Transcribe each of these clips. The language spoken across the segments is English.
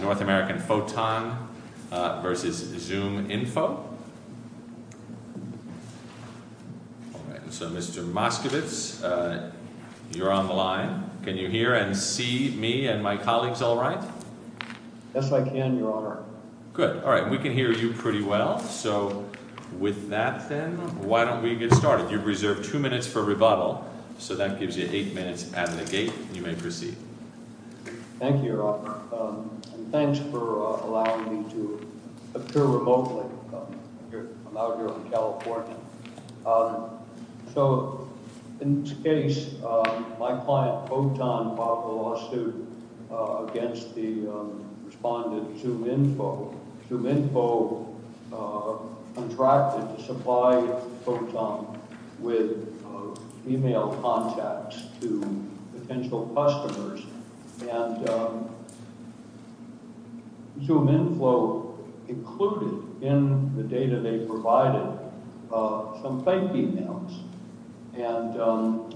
North American Photon v. ZoomInfo. So, Mr. Moskovitz, you're on the line. Can you hear and see me and my colleagues all right? Yes, I can, Your Honor. Good. All right. We can hear you pretty well. So with that, then, why don't we get started? You've reserved two minutes for rebuttal. So that gives you eight minutes at the gate. You may proceed. Thank you, Your Honor. And thanks for allowing me to appear remotely. I'm out here in California. So in this case, my client, Photon, filed a lawsuit against the respondent, ZoomInfo. ZoomInfo contracted to supply Photon with email contacts to potential customers. And ZoomInfo included in the data they provided some fake emails. And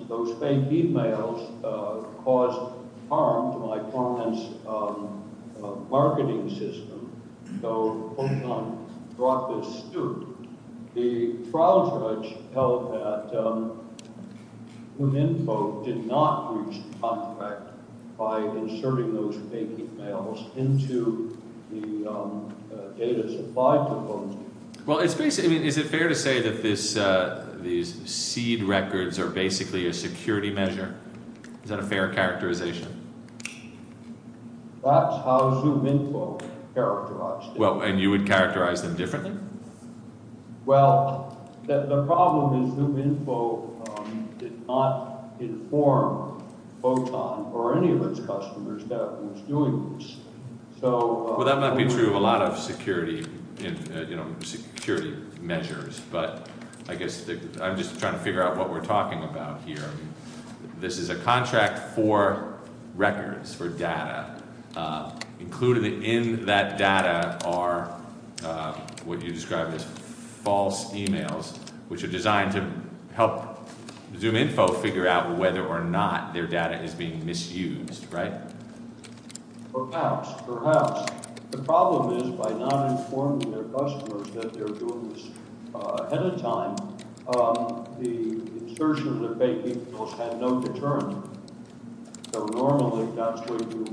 those fake emails caused harm to my client's marketing system. So Photon brought this suit. The trial judge held that ZoomInfo did not breach the contract by inserting those fake emails into the data supplied to Photon. Well, is it fair to say that these seed records are basically a security measure? Is that a fair characterization? That's how ZoomInfo characterized it. Well, and you would characterize them differently? Well, the problem is ZoomInfo did not inform Photon or any of its customers that it was doing this. So... Well, that might be true of a lot of security measures. But I guess I'm just trying to figure out what we're talking about here. This is a contract for records, for data. Included in that data are what you described as false emails, which are designed to help ZoomInfo figure out whether or not their data is being misused, right? Perhaps. Perhaps. The problem is by not informing their customers that they're doing this ahead of time, the insertion of the fake emails had no deterrent. So normally, that's what you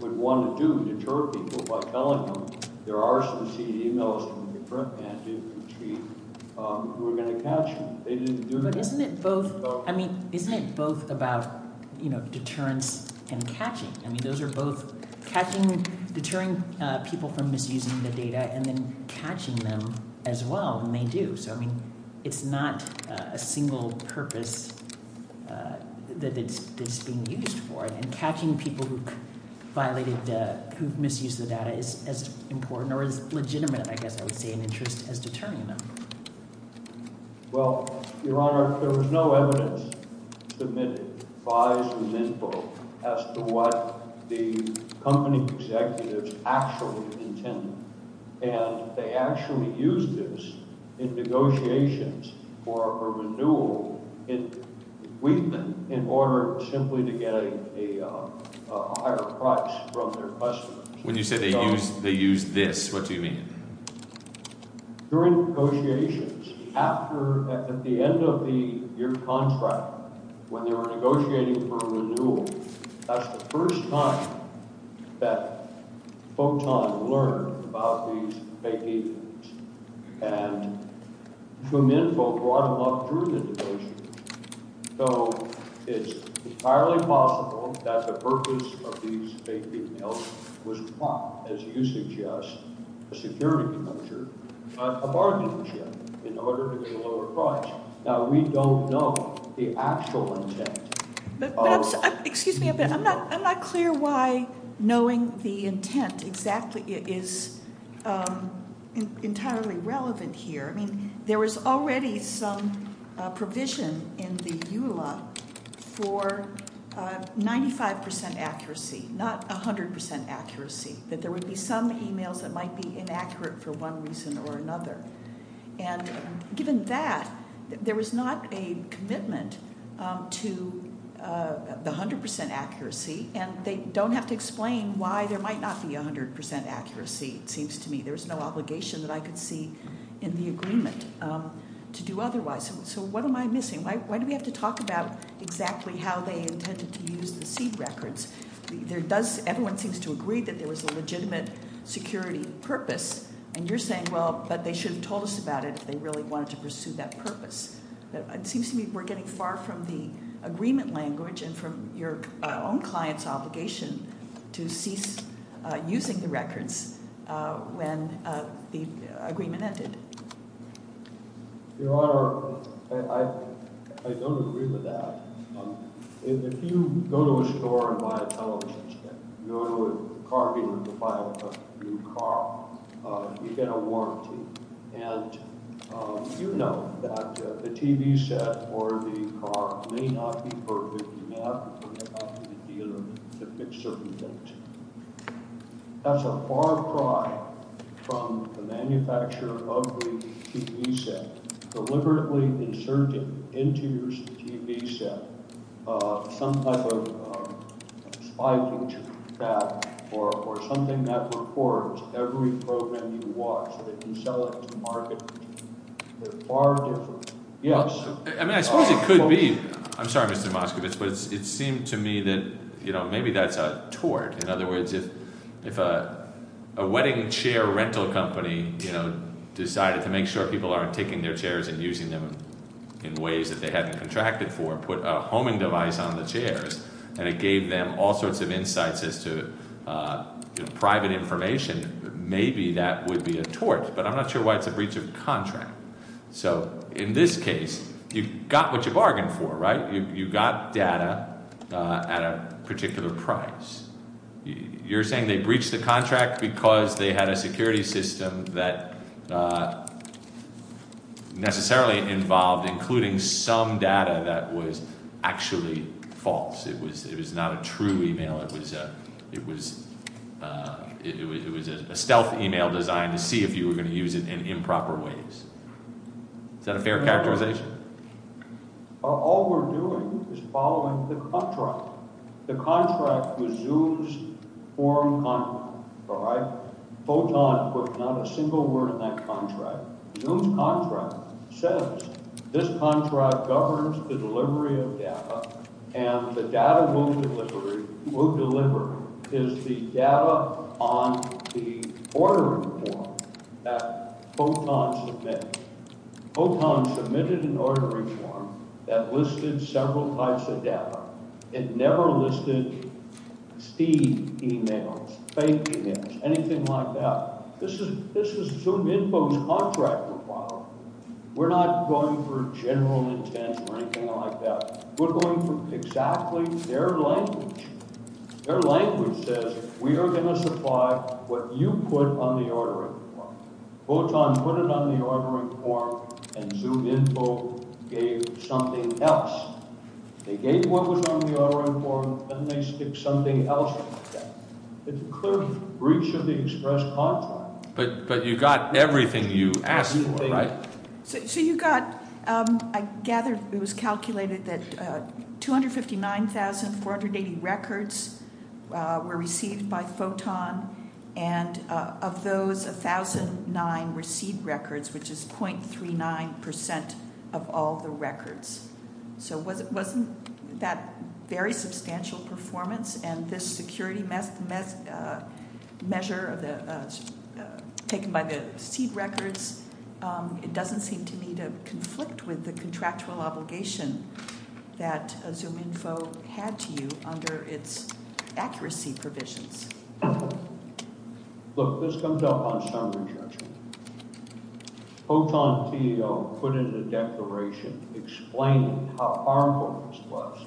would want to do, deter people by telling them there are some seed emails from your front management team who are going to catch you. They didn't do this. But isn't it both? I mean, isn't it both about, you know, deterrence and catching? I mean, those are both catching, deterring people from misusing the data and then catching them as well when they do. So, I mean, it's not a single purpose that it's being used for. And catching people who violated, who misused the data is as important or as legitimate, I guess I would say, an interest as deterring them. Well, Your Honor, there was no evidence submitted by ZoomInfo as to what the company executives actually intended. And they actually used this in negotiations for a renewal in Wheatman in order simply to get a higher price from their customers. When you say they used this, what do you mean? During negotiations, after, at the end of the year contract, when they were negotiating for a full-time learner about these fake emails, and ZoomInfo brought them up during the negotiations. So, it's entirely possible that the purpose of these fake emails was not, as you suggest, a security measure, but a bargaining chip in order to get a lower price. Now, we don't know the actual intent. But, excuse me, I'm not clear why knowing the intent exactly is entirely relevant here. I mean, there was already some provision in the EULA for 95% accuracy, not 100% accuracy, that there would be some emails that might be inaccurate for one reason or another. And given that, there was not a commitment to the 100% accuracy. And they don't have to explain why there might not be 100% accuracy, it seems to me. There was no obligation that I could see in the agreement to do otherwise. So, what am I missing? Why do we have to talk about exactly how they intended to use the seed records? Everyone seems to agree that there was a legitimate security purpose. And you're saying, well, but they should have told us about it if they really wanted to pursue that purpose. But it seems to me we're getting far from the agreement language and from your own client's obligation to cease using the records when the agreement ended. Your Honor, I don't agree with that. If you go to a store and buy a television set, you go to a car dealer to buy a new car, you get a warranty. And you know that the TV set or the car may not be perfect enough for the dealer to fix certain things. That's a far cry from the manufacturer of the TV set deliberately inserting into your TV set some type of spy feature or something that records every program you watch so that you sell it to market. They're far different. Yes. I mean, I suppose it could be. I'm sorry, Mr. Moskovich, but it seemed to me that, you know, maybe that's a tort. In other words, if a wedding chair rental company, you know, decided to make sure people aren't taking their chairs and using them in ways that they haven't contracted for, put a homing device on the chairs, and it gave them all sorts of insights as to private information, maybe that would be a tort. But I'm not sure why it's a breach of contract. So in this case, you got what you bargained for, right? You got data at a particular price. You're saying they breached the contract because they had a security system that necessarily involved including some data that was actually false. It was not a true email. It was a stealth email designed to see if you were going to use it in improper ways. Is that a fair characterization? All we're doing is following the contract. The contract was Zoom's forum contract, all right? Photon put not a single word in that contract. Zoom's contract says this contract governs the delivery of data, and the data we'll deliver is the data on the ordering form that Photon submitted. Photon submitted an ordering form that listed several types of data. It never listed steam emails, fake emails, anything like that. This is ZoomInfo's contract requirement. We're not going for general intent or anything like that. We're going for exactly their language. Their language says we are going to supply what you put on the ordering form. Photon put it on the ordering form, and ZoomInfo gave something else. They gave what was on the ordering form, and they stick something else in there. It's a clear breach of the express contract. But you got everything you asked for, right? So you got, I gather it was calculated that 259,480 records were received by Photon, and of those, 1,009 received records, which is 0.39% of all the records. So wasn't that very substantial performance? And this security measure taken by the seed records, it doesn't seem to me to conflict with the contractual obligation that ZoomInfo had to you under its accuracy provisions. Look, this comes up on summary judgment. Photon CEO put in a declaration explaining how harmful this was.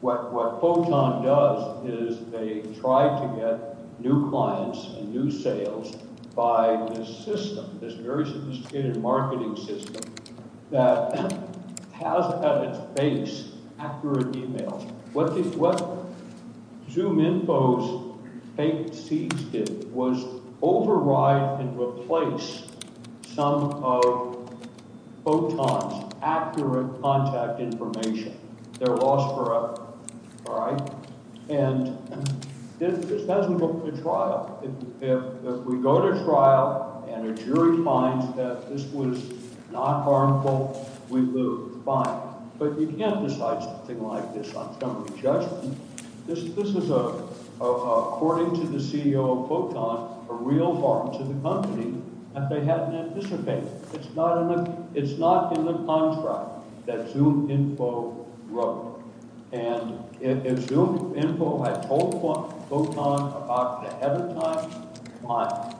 What Photon does is they try to get new clients and new sales by this system, this very sophisticated marketing system that has at its base accurate emails. What ZoomInfo's fake seeds did was override and replace some of Photon's accurate contact information. They're lost forever, all right? And this doesn't go to trial. If we go to trial and a jury finds that this was not harmful, we lose. Fine. But you can't decide something like this on summary judgment. This is, according to the CEO of Photon, a real harm to the company if they hadn't anticipated it. It's not in the contract that ZoomInfo wrote. And if ZoomInfo had told Photon about it ahead of time, fine.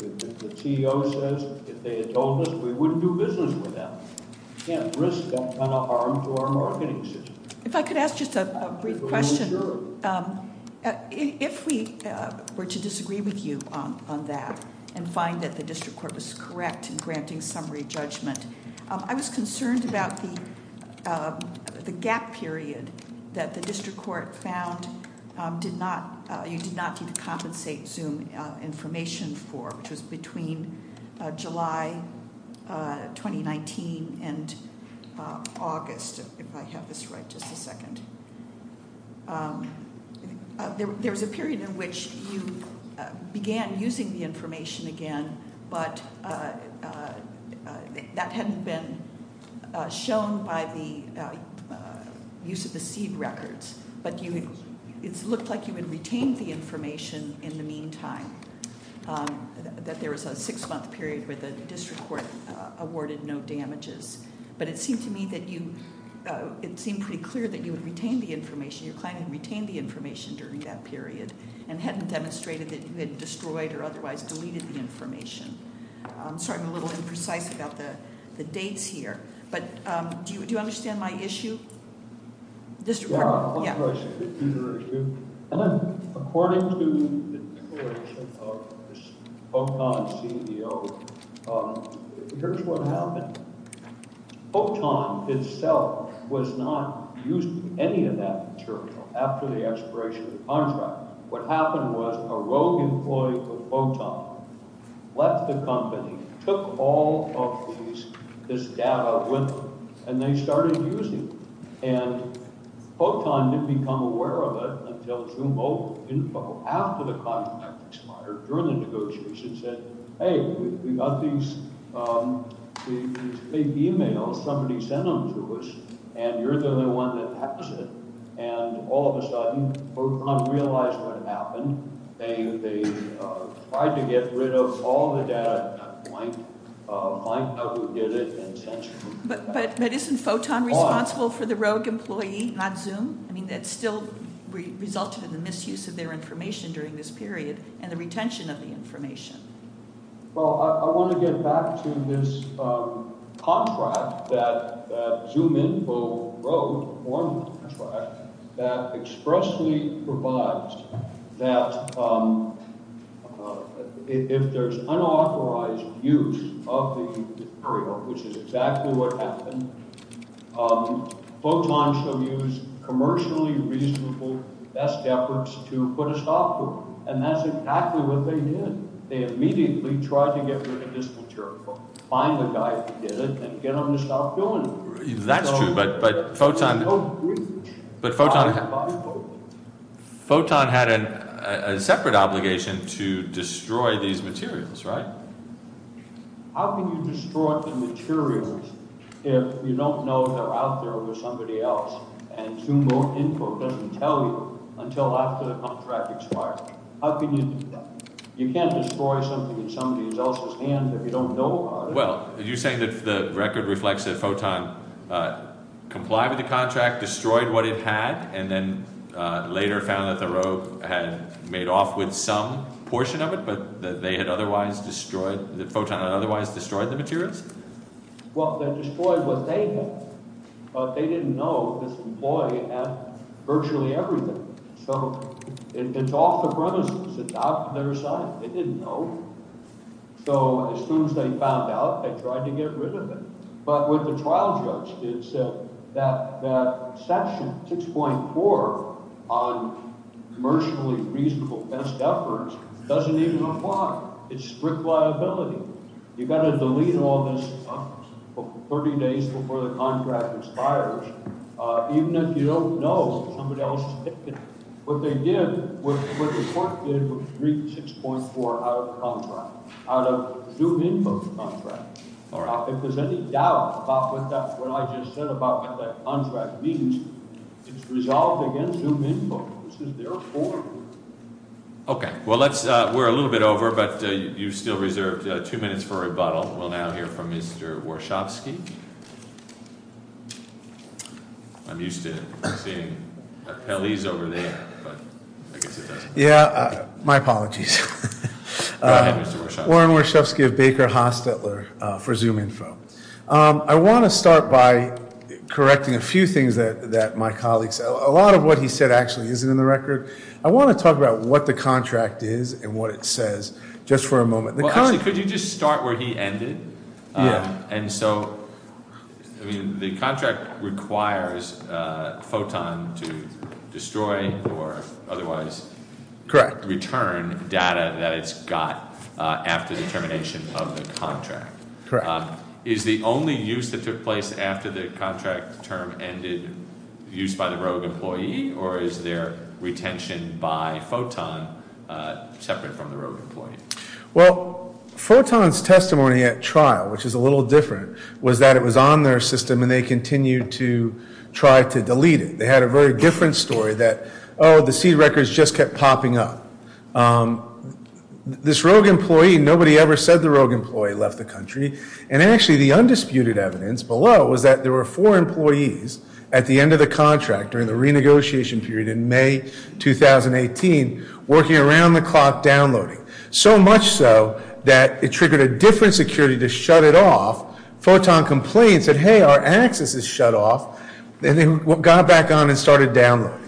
If the CEO says, if they had told us, we wouldn't do business with them. Can't risk that kind of harm to our marketing system. If I could ask just a brief question. If we were to disagree with you on that and find that the district court was correct in granting summary judgment, I was concerned about the gap period that the district court found you did not need to compensate Zoom information for, which was between July 2019 and August. If I have this right, just a second. There was a period in which you began using the information again, but that hadn't been shown by the use of the seed records. But it looked like you had retained the information in the meantime. That there was a six-month period where the district court awarded no damages. But it seemed to me that you, it seemed pretty clear that you would retain the information. You're claiming you retained the information during that period and hadn't demonstrated that you had destroyed or otherwise deleted the information. I'm sorry, I'm a little imprecise about the dates here. But do you understand my issue? District court, yeah. I'm not sure I see it either as you. And then, according to the declaration of POTON CEO, here's what happened. POTON itself was not using any of that material after the expiration of the contract. What happened was a rogue employee of POTON left the company, took all of this data with them, and they started using it. And POTON didn't become aware of it until June 12, after the contract expired, during the negotiations, and said, hey, we got these big emails, somebody sent them to us, and you're the only one that has it. And all of a sudden, POTON realized what happened. They tried to get rid of all the data at that point, find out who did it, and censored it. But isn't POTON responsible for the rogue employee, not Zoom? I mean, that still resulted in the misuse of their information during this period, and the retention of the information. Well, I want to get back to this contract that Zoom info wrote, one contract, that expressly provides that if there's unauthorized use of the material, which is exactly what happened, POTON should use commercially reasonable best efforts to put a stop to it. And that's exactly what they did. They immediately tried to get rid of this material, find the guy who did it, and get him to stop doing it. That's true, but POTON had a separate obligation to destroy these materials, right? How can you destroy the materials if you don't know they're out there with somebody else, and Zoom info doesn't tell you until after the contract expires? How can you do that? You can't destroy something in somebody else's hands if you don't know about it. Well, you're saying that the record reflects that POTON complied with the contract, destroyed what it had, and then later found that the rogue had made off with some portion of it, but that POTON had otherwise destroyed the materials? Well, they destroyed what they had, but they didn't know this employee had virtually everything. So it's off the premises. It's out on their side. They didn't know. So as soon as they found out, they tried to get rid of it. But what the trial judge did said that section 6.4 on commercially reasonable best efforts doesn't even apply. It's strict liability. You've got to delete all this 30 days before the contract expires, even if you don't know somebody else is taking it. What they did, what the court did, was read 6.4 out of the contract, out of Zoom info's contract. All right. If there's any doubt about what I just said about what that contract means, it's resolved against Zoom info. This is their form. Okay. Well, we're a little bit over, but you still reserved two minutes for rebuttal. We'll now hear from Mr. Warshavsky. I'm used to seeing appellees over there, but I guess it doesn't matter. Yeah, my apologies. Warren Warshavsky of Baker Hostetler for Zoom info. I want to start by correcting a few things that my colleague said. A lot of what he said actually isn't in the record. I want to talk about what the contract is and what it says, just for a moment. Well, actually, could you just start where he ended? Yeah. And so, I mean, the contract requires Photon to destroy or otherwise- Correct. Return data that it's got after the termination of the contract. Correct. Is the only use that took place after the contract term ended used by the rogue employee, or is there retention by Photon separate from the rogue employee? Well, Photon's testimony at trial, which is a little different, was that it was on their system and they continued to try to delete it. They had a very different story that, oh, the seed records just kept popping up. This rogue employee, nobody ever said the rogue employee left the country. And actually, the undisputed evidence below was that there were four employees at the end of the contract, during the renegotiation period in May 2018, working around the clock downloading. So much so that it triggered a different security to shut it off. Photon complained, said, hey, our access is shut off, and then got back on and started downloading.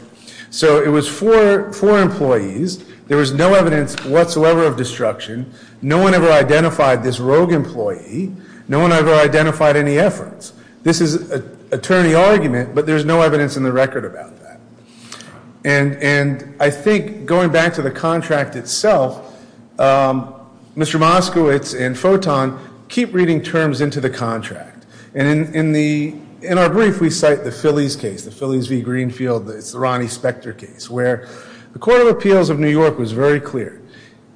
So it was four employees. There was no evidence whatsoever of destruction. No one ever identified this rogue employee. No one ever identified any efforts. This is an attorney argument, but there's no evidence in the record about that. And I think, going back to the contract itself, Mr. Moskowitz and Photon keep reading terms into the contract. And in our brief, we cite the Phillies case, the Phillies v. Greenfield, it's the Ronnie Spector case, where the Court of Appeals of New York was very clear.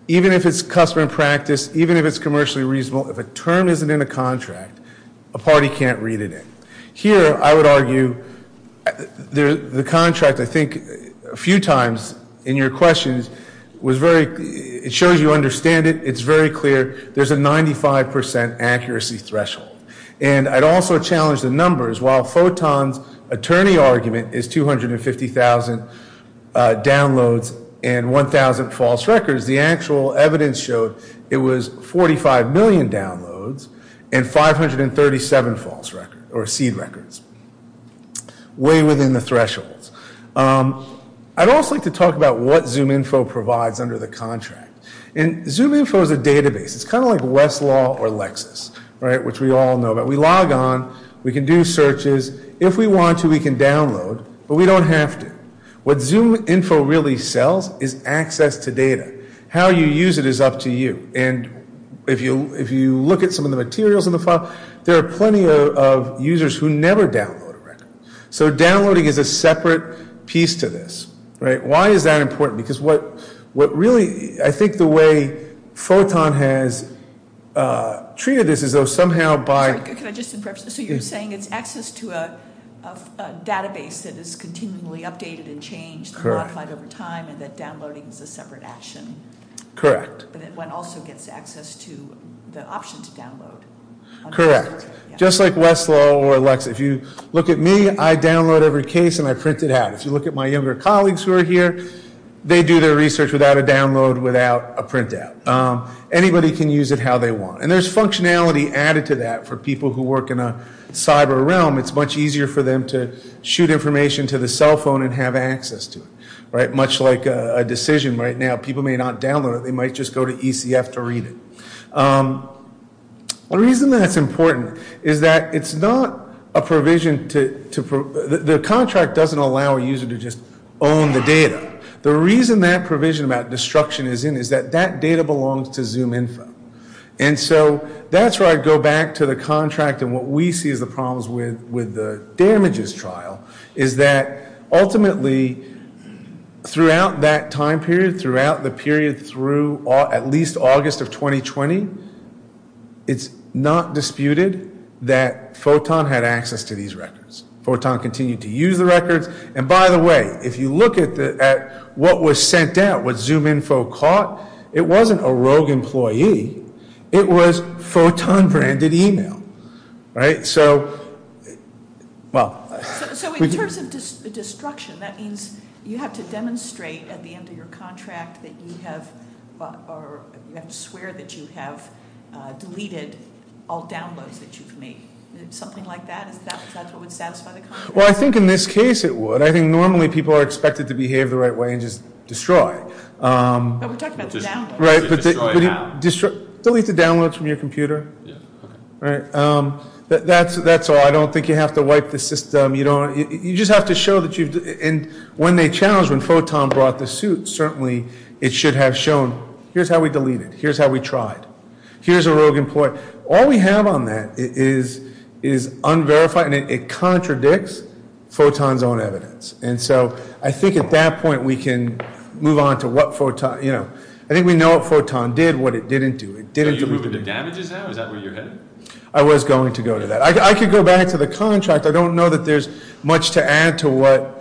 Even if it's custom and practice, even if it's commercially reasonable, if a term isn't in a contract, a party can't read it in. Here, I would argue, the contract, I think, a few times in your questions, was very, it shows you understand it. It's very clear. There's a 95% accuracy threshold. And I'd also challenge the numbers. While Photon's attorney argument is 250,000 downloads and 1,000 false records, the actual evidence showed it was 45 million downloads and 537 false records, or seed records. Way within the thresholds. I'd also like to talk about what ZoomInfo provides under the contract. And ZoomInfo is a database. It's kind of like Westlaw or Lexis, right, which we all know. But we log on, we can do searches. If we want to, we can download, but we don't have to. What ZoomInfo really sells is access to data. How you use it is up to you. And if you look at some of the materials in the file, there are plenty of users who never download a record. So downloading is a separate piece to this, right? Why is that important? Because what really, I think the way Photon has treated this is somehow by- Can I just interrupt? So you're saying it's access to a database that is continually updated and changed and modified over time and that downloading is a separate action. Correct. But it also gets access to the option to download. Correct. Just like Westlaw or Lexis. If you look at me, I download every case and I print it out. If you look at my younger colleagues who are here, they do their research without a download, without a printout. Anybody can use it how they want. There's functionality added to that for people who work in a cyber realm. It's much easier for them to shoot information to the cell phone and have access to it, right? Much like a decision right now. People may not download it. They might just go to ECF to read it. The reason that's important is that it's not a provision to- The contract doesn't allow a user to just own the data. The reason that provision about destruction is in is that that data belongs to ZoomInfo. And so that's where I go back to the contract and what we see as the problems with the damages trial is that ultimately throughout that time period, throughout the period through at least August of 2020, it's not disputed that Photon had access to these records. Photon continued to use the records. And by the way, if you look at what was sent out, what ZoomInfo caught, it wasn't a rogue employee. It was Photon branded email, right? So well- So in terms of destruction, that means you have to demonstrate at the end of your contract that you have or you have to swear that you have deleted all downloads that you've made. Something like that, is that what would satisfy the contract? Well, I think in this case it would. I think normally people are expected to behave the right way and just destroy. We're talking about the download. Right, but delete the downloads from your computer. Right. That's all. I don't think you have to wipe the system. You just have to show that you've- And when they challenged when Photon brought the suit, certainly it should have shown, here's how we deleted. Here's how we tried. Here's a rogue employee. All we have on that is unverified and it contradicts Photon's own evidence. And so I think at that point we can move on to what Photon, you know. I think we know what Photon did, what it didn't do. It didn't- So you're moving to damages now? Is that where you're headed? I was going to go to that. I could go back to the contract. I don't know that there's much to add to what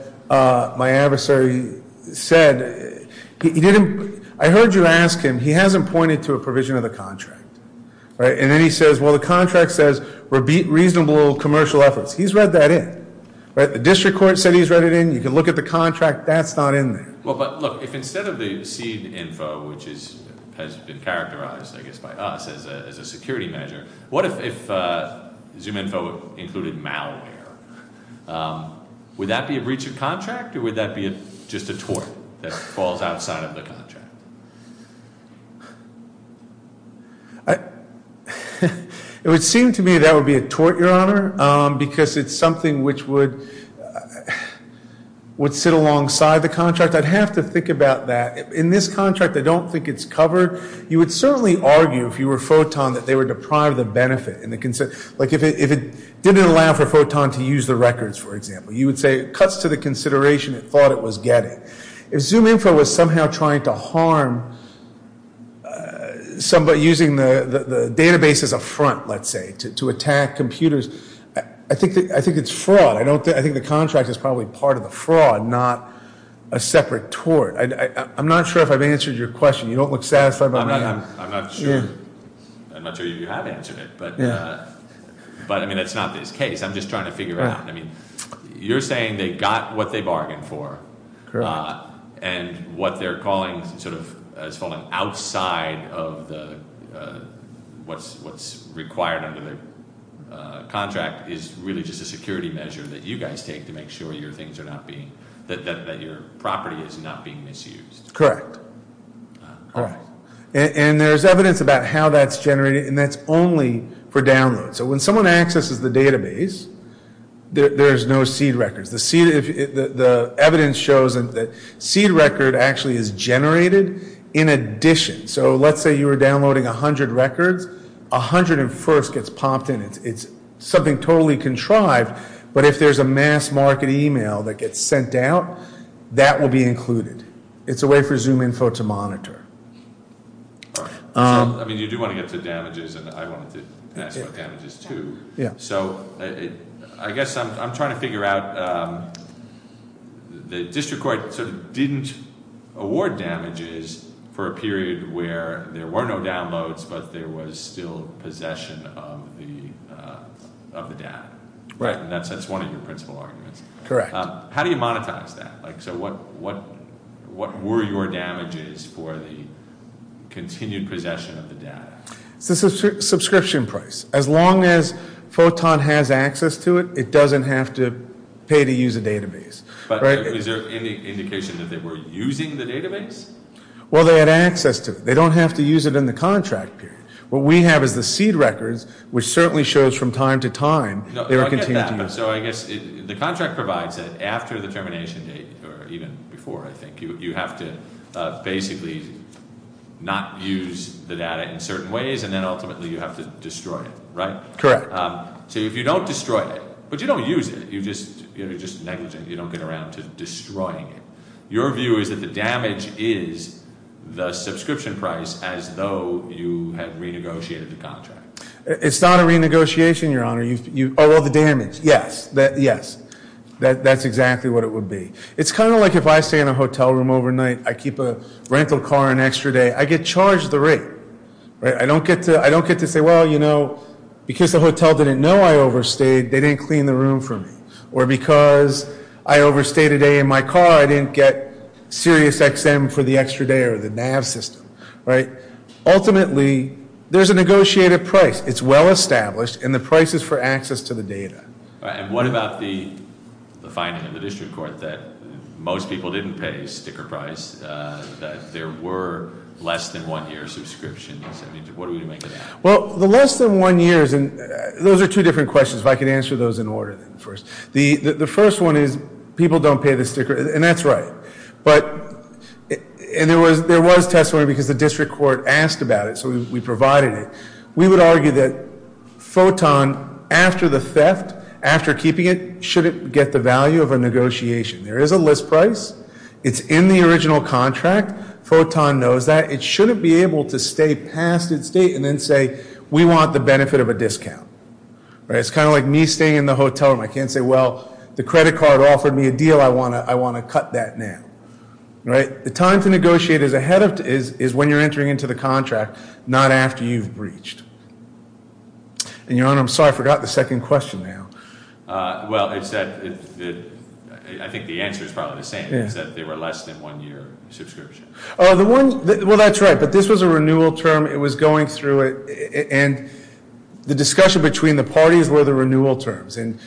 my adversary said. I heard you ask him. He hasn't pointed to a provision of the contract, right? And then he says, well, the contract says we're beat reasonable commercial efforts. He's read that in, right? The district court said he's read it in. You can look at the contract. That's not in there. Well, but look, if instead of the seed info, which has been characterized, I guess, by us as a security measure. What if ZoomInfo included malware? Would that be a breach of contract, or would that be just a tort that falls outside of the contract? It would seem to me that would be a tort, Your Honor, because it's something which would sit alongside the contract. I'd have to think about that. In this contract, I don't think it's covered. You would certainly argue, if you were Photon, that they would deprive the benefit. Like if it didn't allow for Photon to use the records, for example, you would say it cuts to the consideration it thought it was getting. If ZoomInfo was somehow trying to harm somebody using the database as a front, let's say, to attack computers. I think it's fraud. I think the contract is probably part of the fraud, not a separate tort. I'm not sure if I've answered your question. You don't look satisfied by my answer. I'm not sure you have answered it, but I mean, it's not this case. I'm just trying to figure it out. I mean, you're saying they got what they bargained for. Correct. And what they're calling sort of has fallen outside of what's required under the contract is really just a security measure that you guys take to make sure your things are not being, that your property is not being misused. Correct. Correct. And there's evidence about how that's generated, and that's only for download. So when someone accesses the database, there's no seed records. The evidence shows that seed record actually is generated in addition. So let's say you were downloading 100 records, 101st gets popped in. It's something totally contrived, but if there's a mass market email that gets sent out, that will be included. It's a way for ZoomInfo to monitor. I mean, you do want to get to damages, and I wanted to ask about damages, too. So I guess I'm trying to figure out the district court sort of didn't award damages for a period where there were no downloads, but there was still possession of the data. Right, and that's one of your principal arguments. Correct. How do you monetize that? So what were your damages for the continued possession of the data? It's a subscription price. As long as Photon has access to it, it doesn't have to pay to use a database. But is there any indication that they were using the database? Well, they had access to it. They don't have to use it in the contract period. What we have is the seed records, which certainly shows from time to time, they were continuing to use it. So I guess the contract provides that after the termination date, or even before, I think, you have to basically not use the data in certain ways, and then ultimately you have to destroy it, right? Correct. So if you don't destroy it, but you don't use it, you're just negligent. You don't get around to destroying it. Your view is that the damage is the subscription price as though you had renegotiated the contract. It's not a renegotiation, Your Honor. You owe all the damage. Yes, that's exactly what it would be. It's kind of like if I stay in a hotel room overnight, I keep a rental car an extra day, I get charged the rate, right? I don't get to say, well, because the hotel didn't know I overstayed, they didn't clean the room for me. Or because I overstayed a day in my car, I didn't get serious XM for the extra day or the NAV system, right? Ultimately, there's a negotiated price. It's well established, and the price is for access to the data. And what about the finding in the district court that most people didn't pay sticker price, that there were less than one year subscriptions, I mean, what do we make of that? Well, the less than one years, and those are two different questions, if I could answer those in order first. The first one is people don't pay the sticker, and that's right. But, and there was testimony because the district court asked about it, so we provided it. We would argue that Photon, after the theft, after keeping it, should it get the value of a negotiation? There is a list price, it's in the original contract, Photon knows that. It shouldn't be able to stay past its date and then say, we want the benefit of a discount, right? It's kind of like me staying in the hotel room. I can't say, well, the credit card offered me a deal, I want to cut that now, right? The time to negotiate is when you're entering into the contract, not after you've breached. And your honor, I'm sorry, I forgot the second question now. Well, I think the answer is probably the same, is that there were less than one year subscription. The one, well, that's right, but this was a renewal term, it was going through it, and the discussion between the parties were the renewal terms, and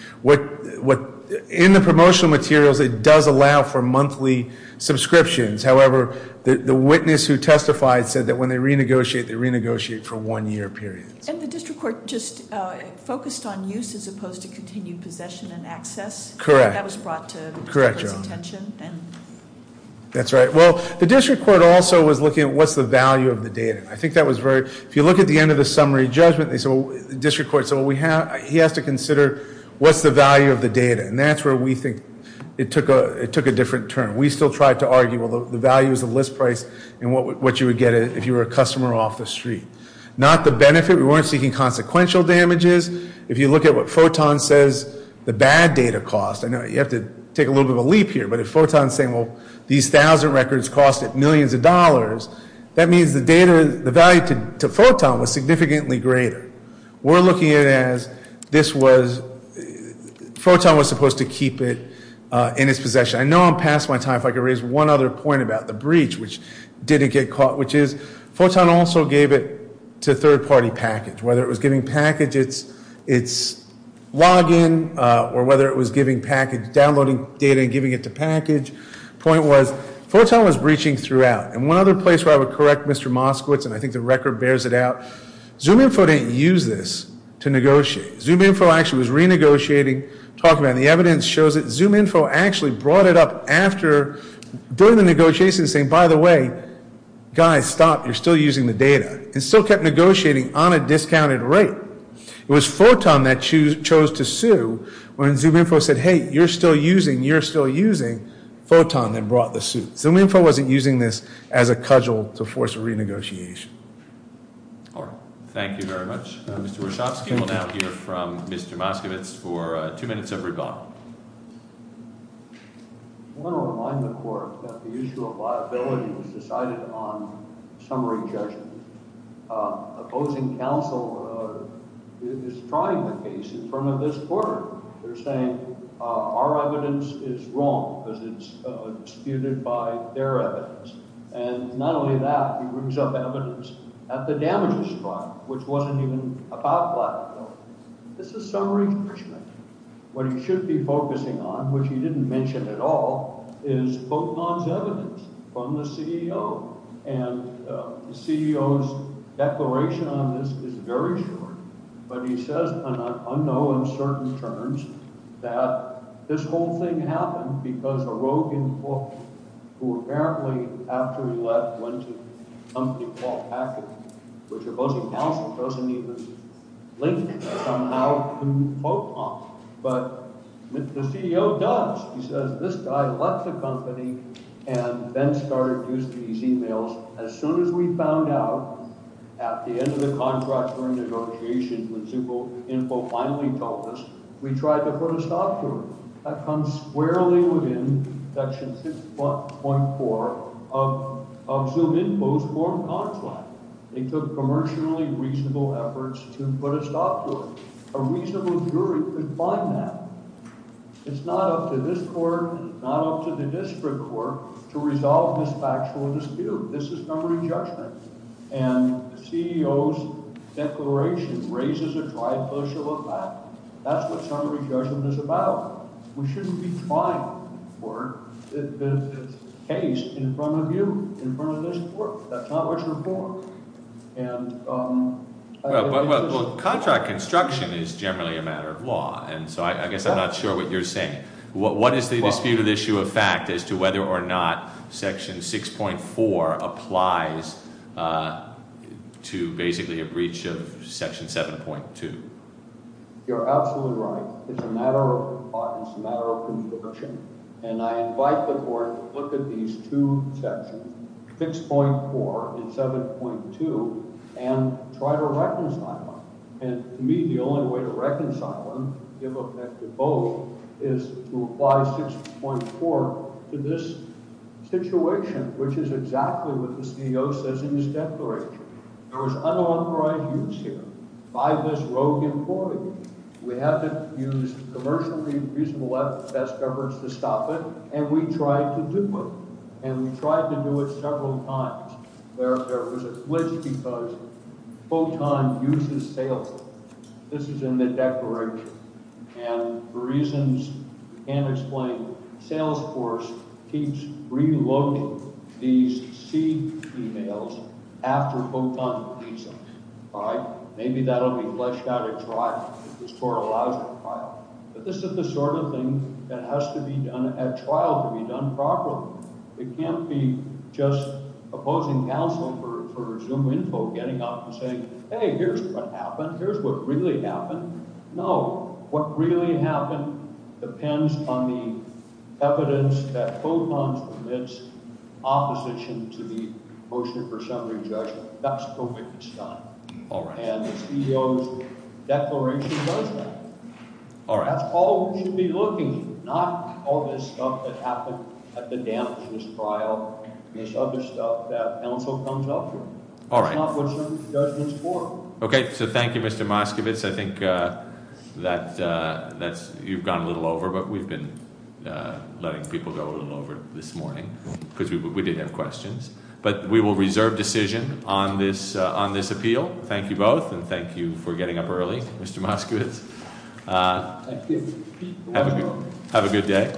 in the promotional materials, it does allow for monthly subscriptions, however, the witness who testified said that when they renegotiate, they renegotiate for one year period. And the district court just focused on use as opposed to continued possession and access? Correct. That was brought to the district court's attention? That's right. Well, the district court also was looking at what's the value of the data. I think that was very, if you look at the end of the summary judgment, they said, well, the district court said, he has to consider what's the value of the data. And that's where we think it took a different turn. We still tried to argue, well, the value is the list price and what you would get if you were a customer off the street. Not the benefit, we weren't seeking consequential damages. If you look at what Photon says, the bad data cost. I know you have to take a little bit of a leap here, but if Photon's saying, well, these thousand records costed millions of dollars, that means the value to Photon was significantly greater. We're looking at it as this was, Photon was supposed to keep it in its possession. I know I'm past my time, if I could raise one other point about the breach, which didn't get caught, which is Photon also gave it to third party package. Whether it was giving package its login, or whether it was downloading data and giving it to package. Point was, Photon was breaching throughout. And one other place where I would correct Mr. Moskowitz, and I think the record bears it out. ZoomInfo didn't use this to negotiate. ZoomInfo actually was renegotiating. Talking about the evidence shows that ZoomInfo actually brought it up after doing the negotiations saying, by the way, guys stop, you're still using the data, and still kept negotiating on a discounted rate. It was Photon that chose to sue when ZoomInfo said, hey, you're still using, you're still using. Photon then brought the suit. ZoomInfo wasn't using this as a cudgel to force a renegotiation. Thank you very much. Mr. Wachowski will now hear from Mr. Moskowitz for two minutes of rebuttal. I want to remind the court that the usual liability is decided on summary judgment. Opposing counsel is trying the case in front of this court. They're saying our evidence is wrong because it's disputed by their evidence. And not only that, he brings up evidence at the damages trial, which wasn't even about blackmail. This is summary judgment. What he should be focusing on, which he didn't mention at all, is Photon's evidence from the CEO. And the CEO's declaration on this is very short. But he says on an unknown and certain terms that this whole thing happened because a rogue in court, who apparently, after he left, went to a company called Hackett, which opposing counsel doesn't even link somehow to Photon. But the CEO does. He says, this guy left the company and then started using these emails. As soon as we found out at the end of the contract renegotiation when ZoomInfo finally told us, we tried to put a stop to it. That comes squarely within section 6.4 of ZoomInfo's form contract. They took commercially reasonable efforts to put a stop to it. A reasonable jury could find that. It's not up to this court, not up to the district court, to resolve this factual dispute. This is summary judgment. And the CEO's declaration raises a tributial of that. That's what summary judgment is about. We shouldn't be trying for the case in front of you, in front of this court. That's not what you're for. And- Well, contract construction is generally a matter of law. And so I guess I'm not sure what you're saying. What is the disputed issue of fact as to whether or not section 6.4 applies to basically a breach of section 7.2? You're absolutely right. It's a matter of law. It's a matter of conviction. And I invite the court to look at these two sections, 6.4 and 7.2, and try to reconcile them. And to me, the only way to reconcile them, to give effect to both, is to apply 6.4 to this situation, which is exactly what the CEO says in his declaration. There was unauthorized use here. By this rogue employee. We have to use commercially reasonable best efforts to stop it, and we tried to do it. And we tried to do it several times. There was a glitch because Photon uses Salesforce. This is in the declaration. And for reasons we can't explain, Salesforce keeps reloading these seed emails after Photon leaves them. Maybe that'll be fleshed out at trial, if this court allows it at trial. But this is the sort of thing that has to be done at trial to be done properly. It can't be just opposing counsel for Zoom Info getting up and saying, hey, here's what happened. Here's what really happened. No. What really happened depends on the evidence that Photon submits opposition to the motion for summary judgment. That's the way it's done. And the CEO's declaration does that. That's all we should be looking for. Not all this stuff that happened at the damages trial. This other stuff that counsel comes up with. That's not what Zoom does this for. Okay, so thank you, Mr. Moskovitz. I think that you've gone a little over, but we've been letting people go a little over this morning. Because we did have questions. But we will reserve decision on this appeal. Thank you both, and thank you for getting up early, Mr. Moskovitz. Have a good day.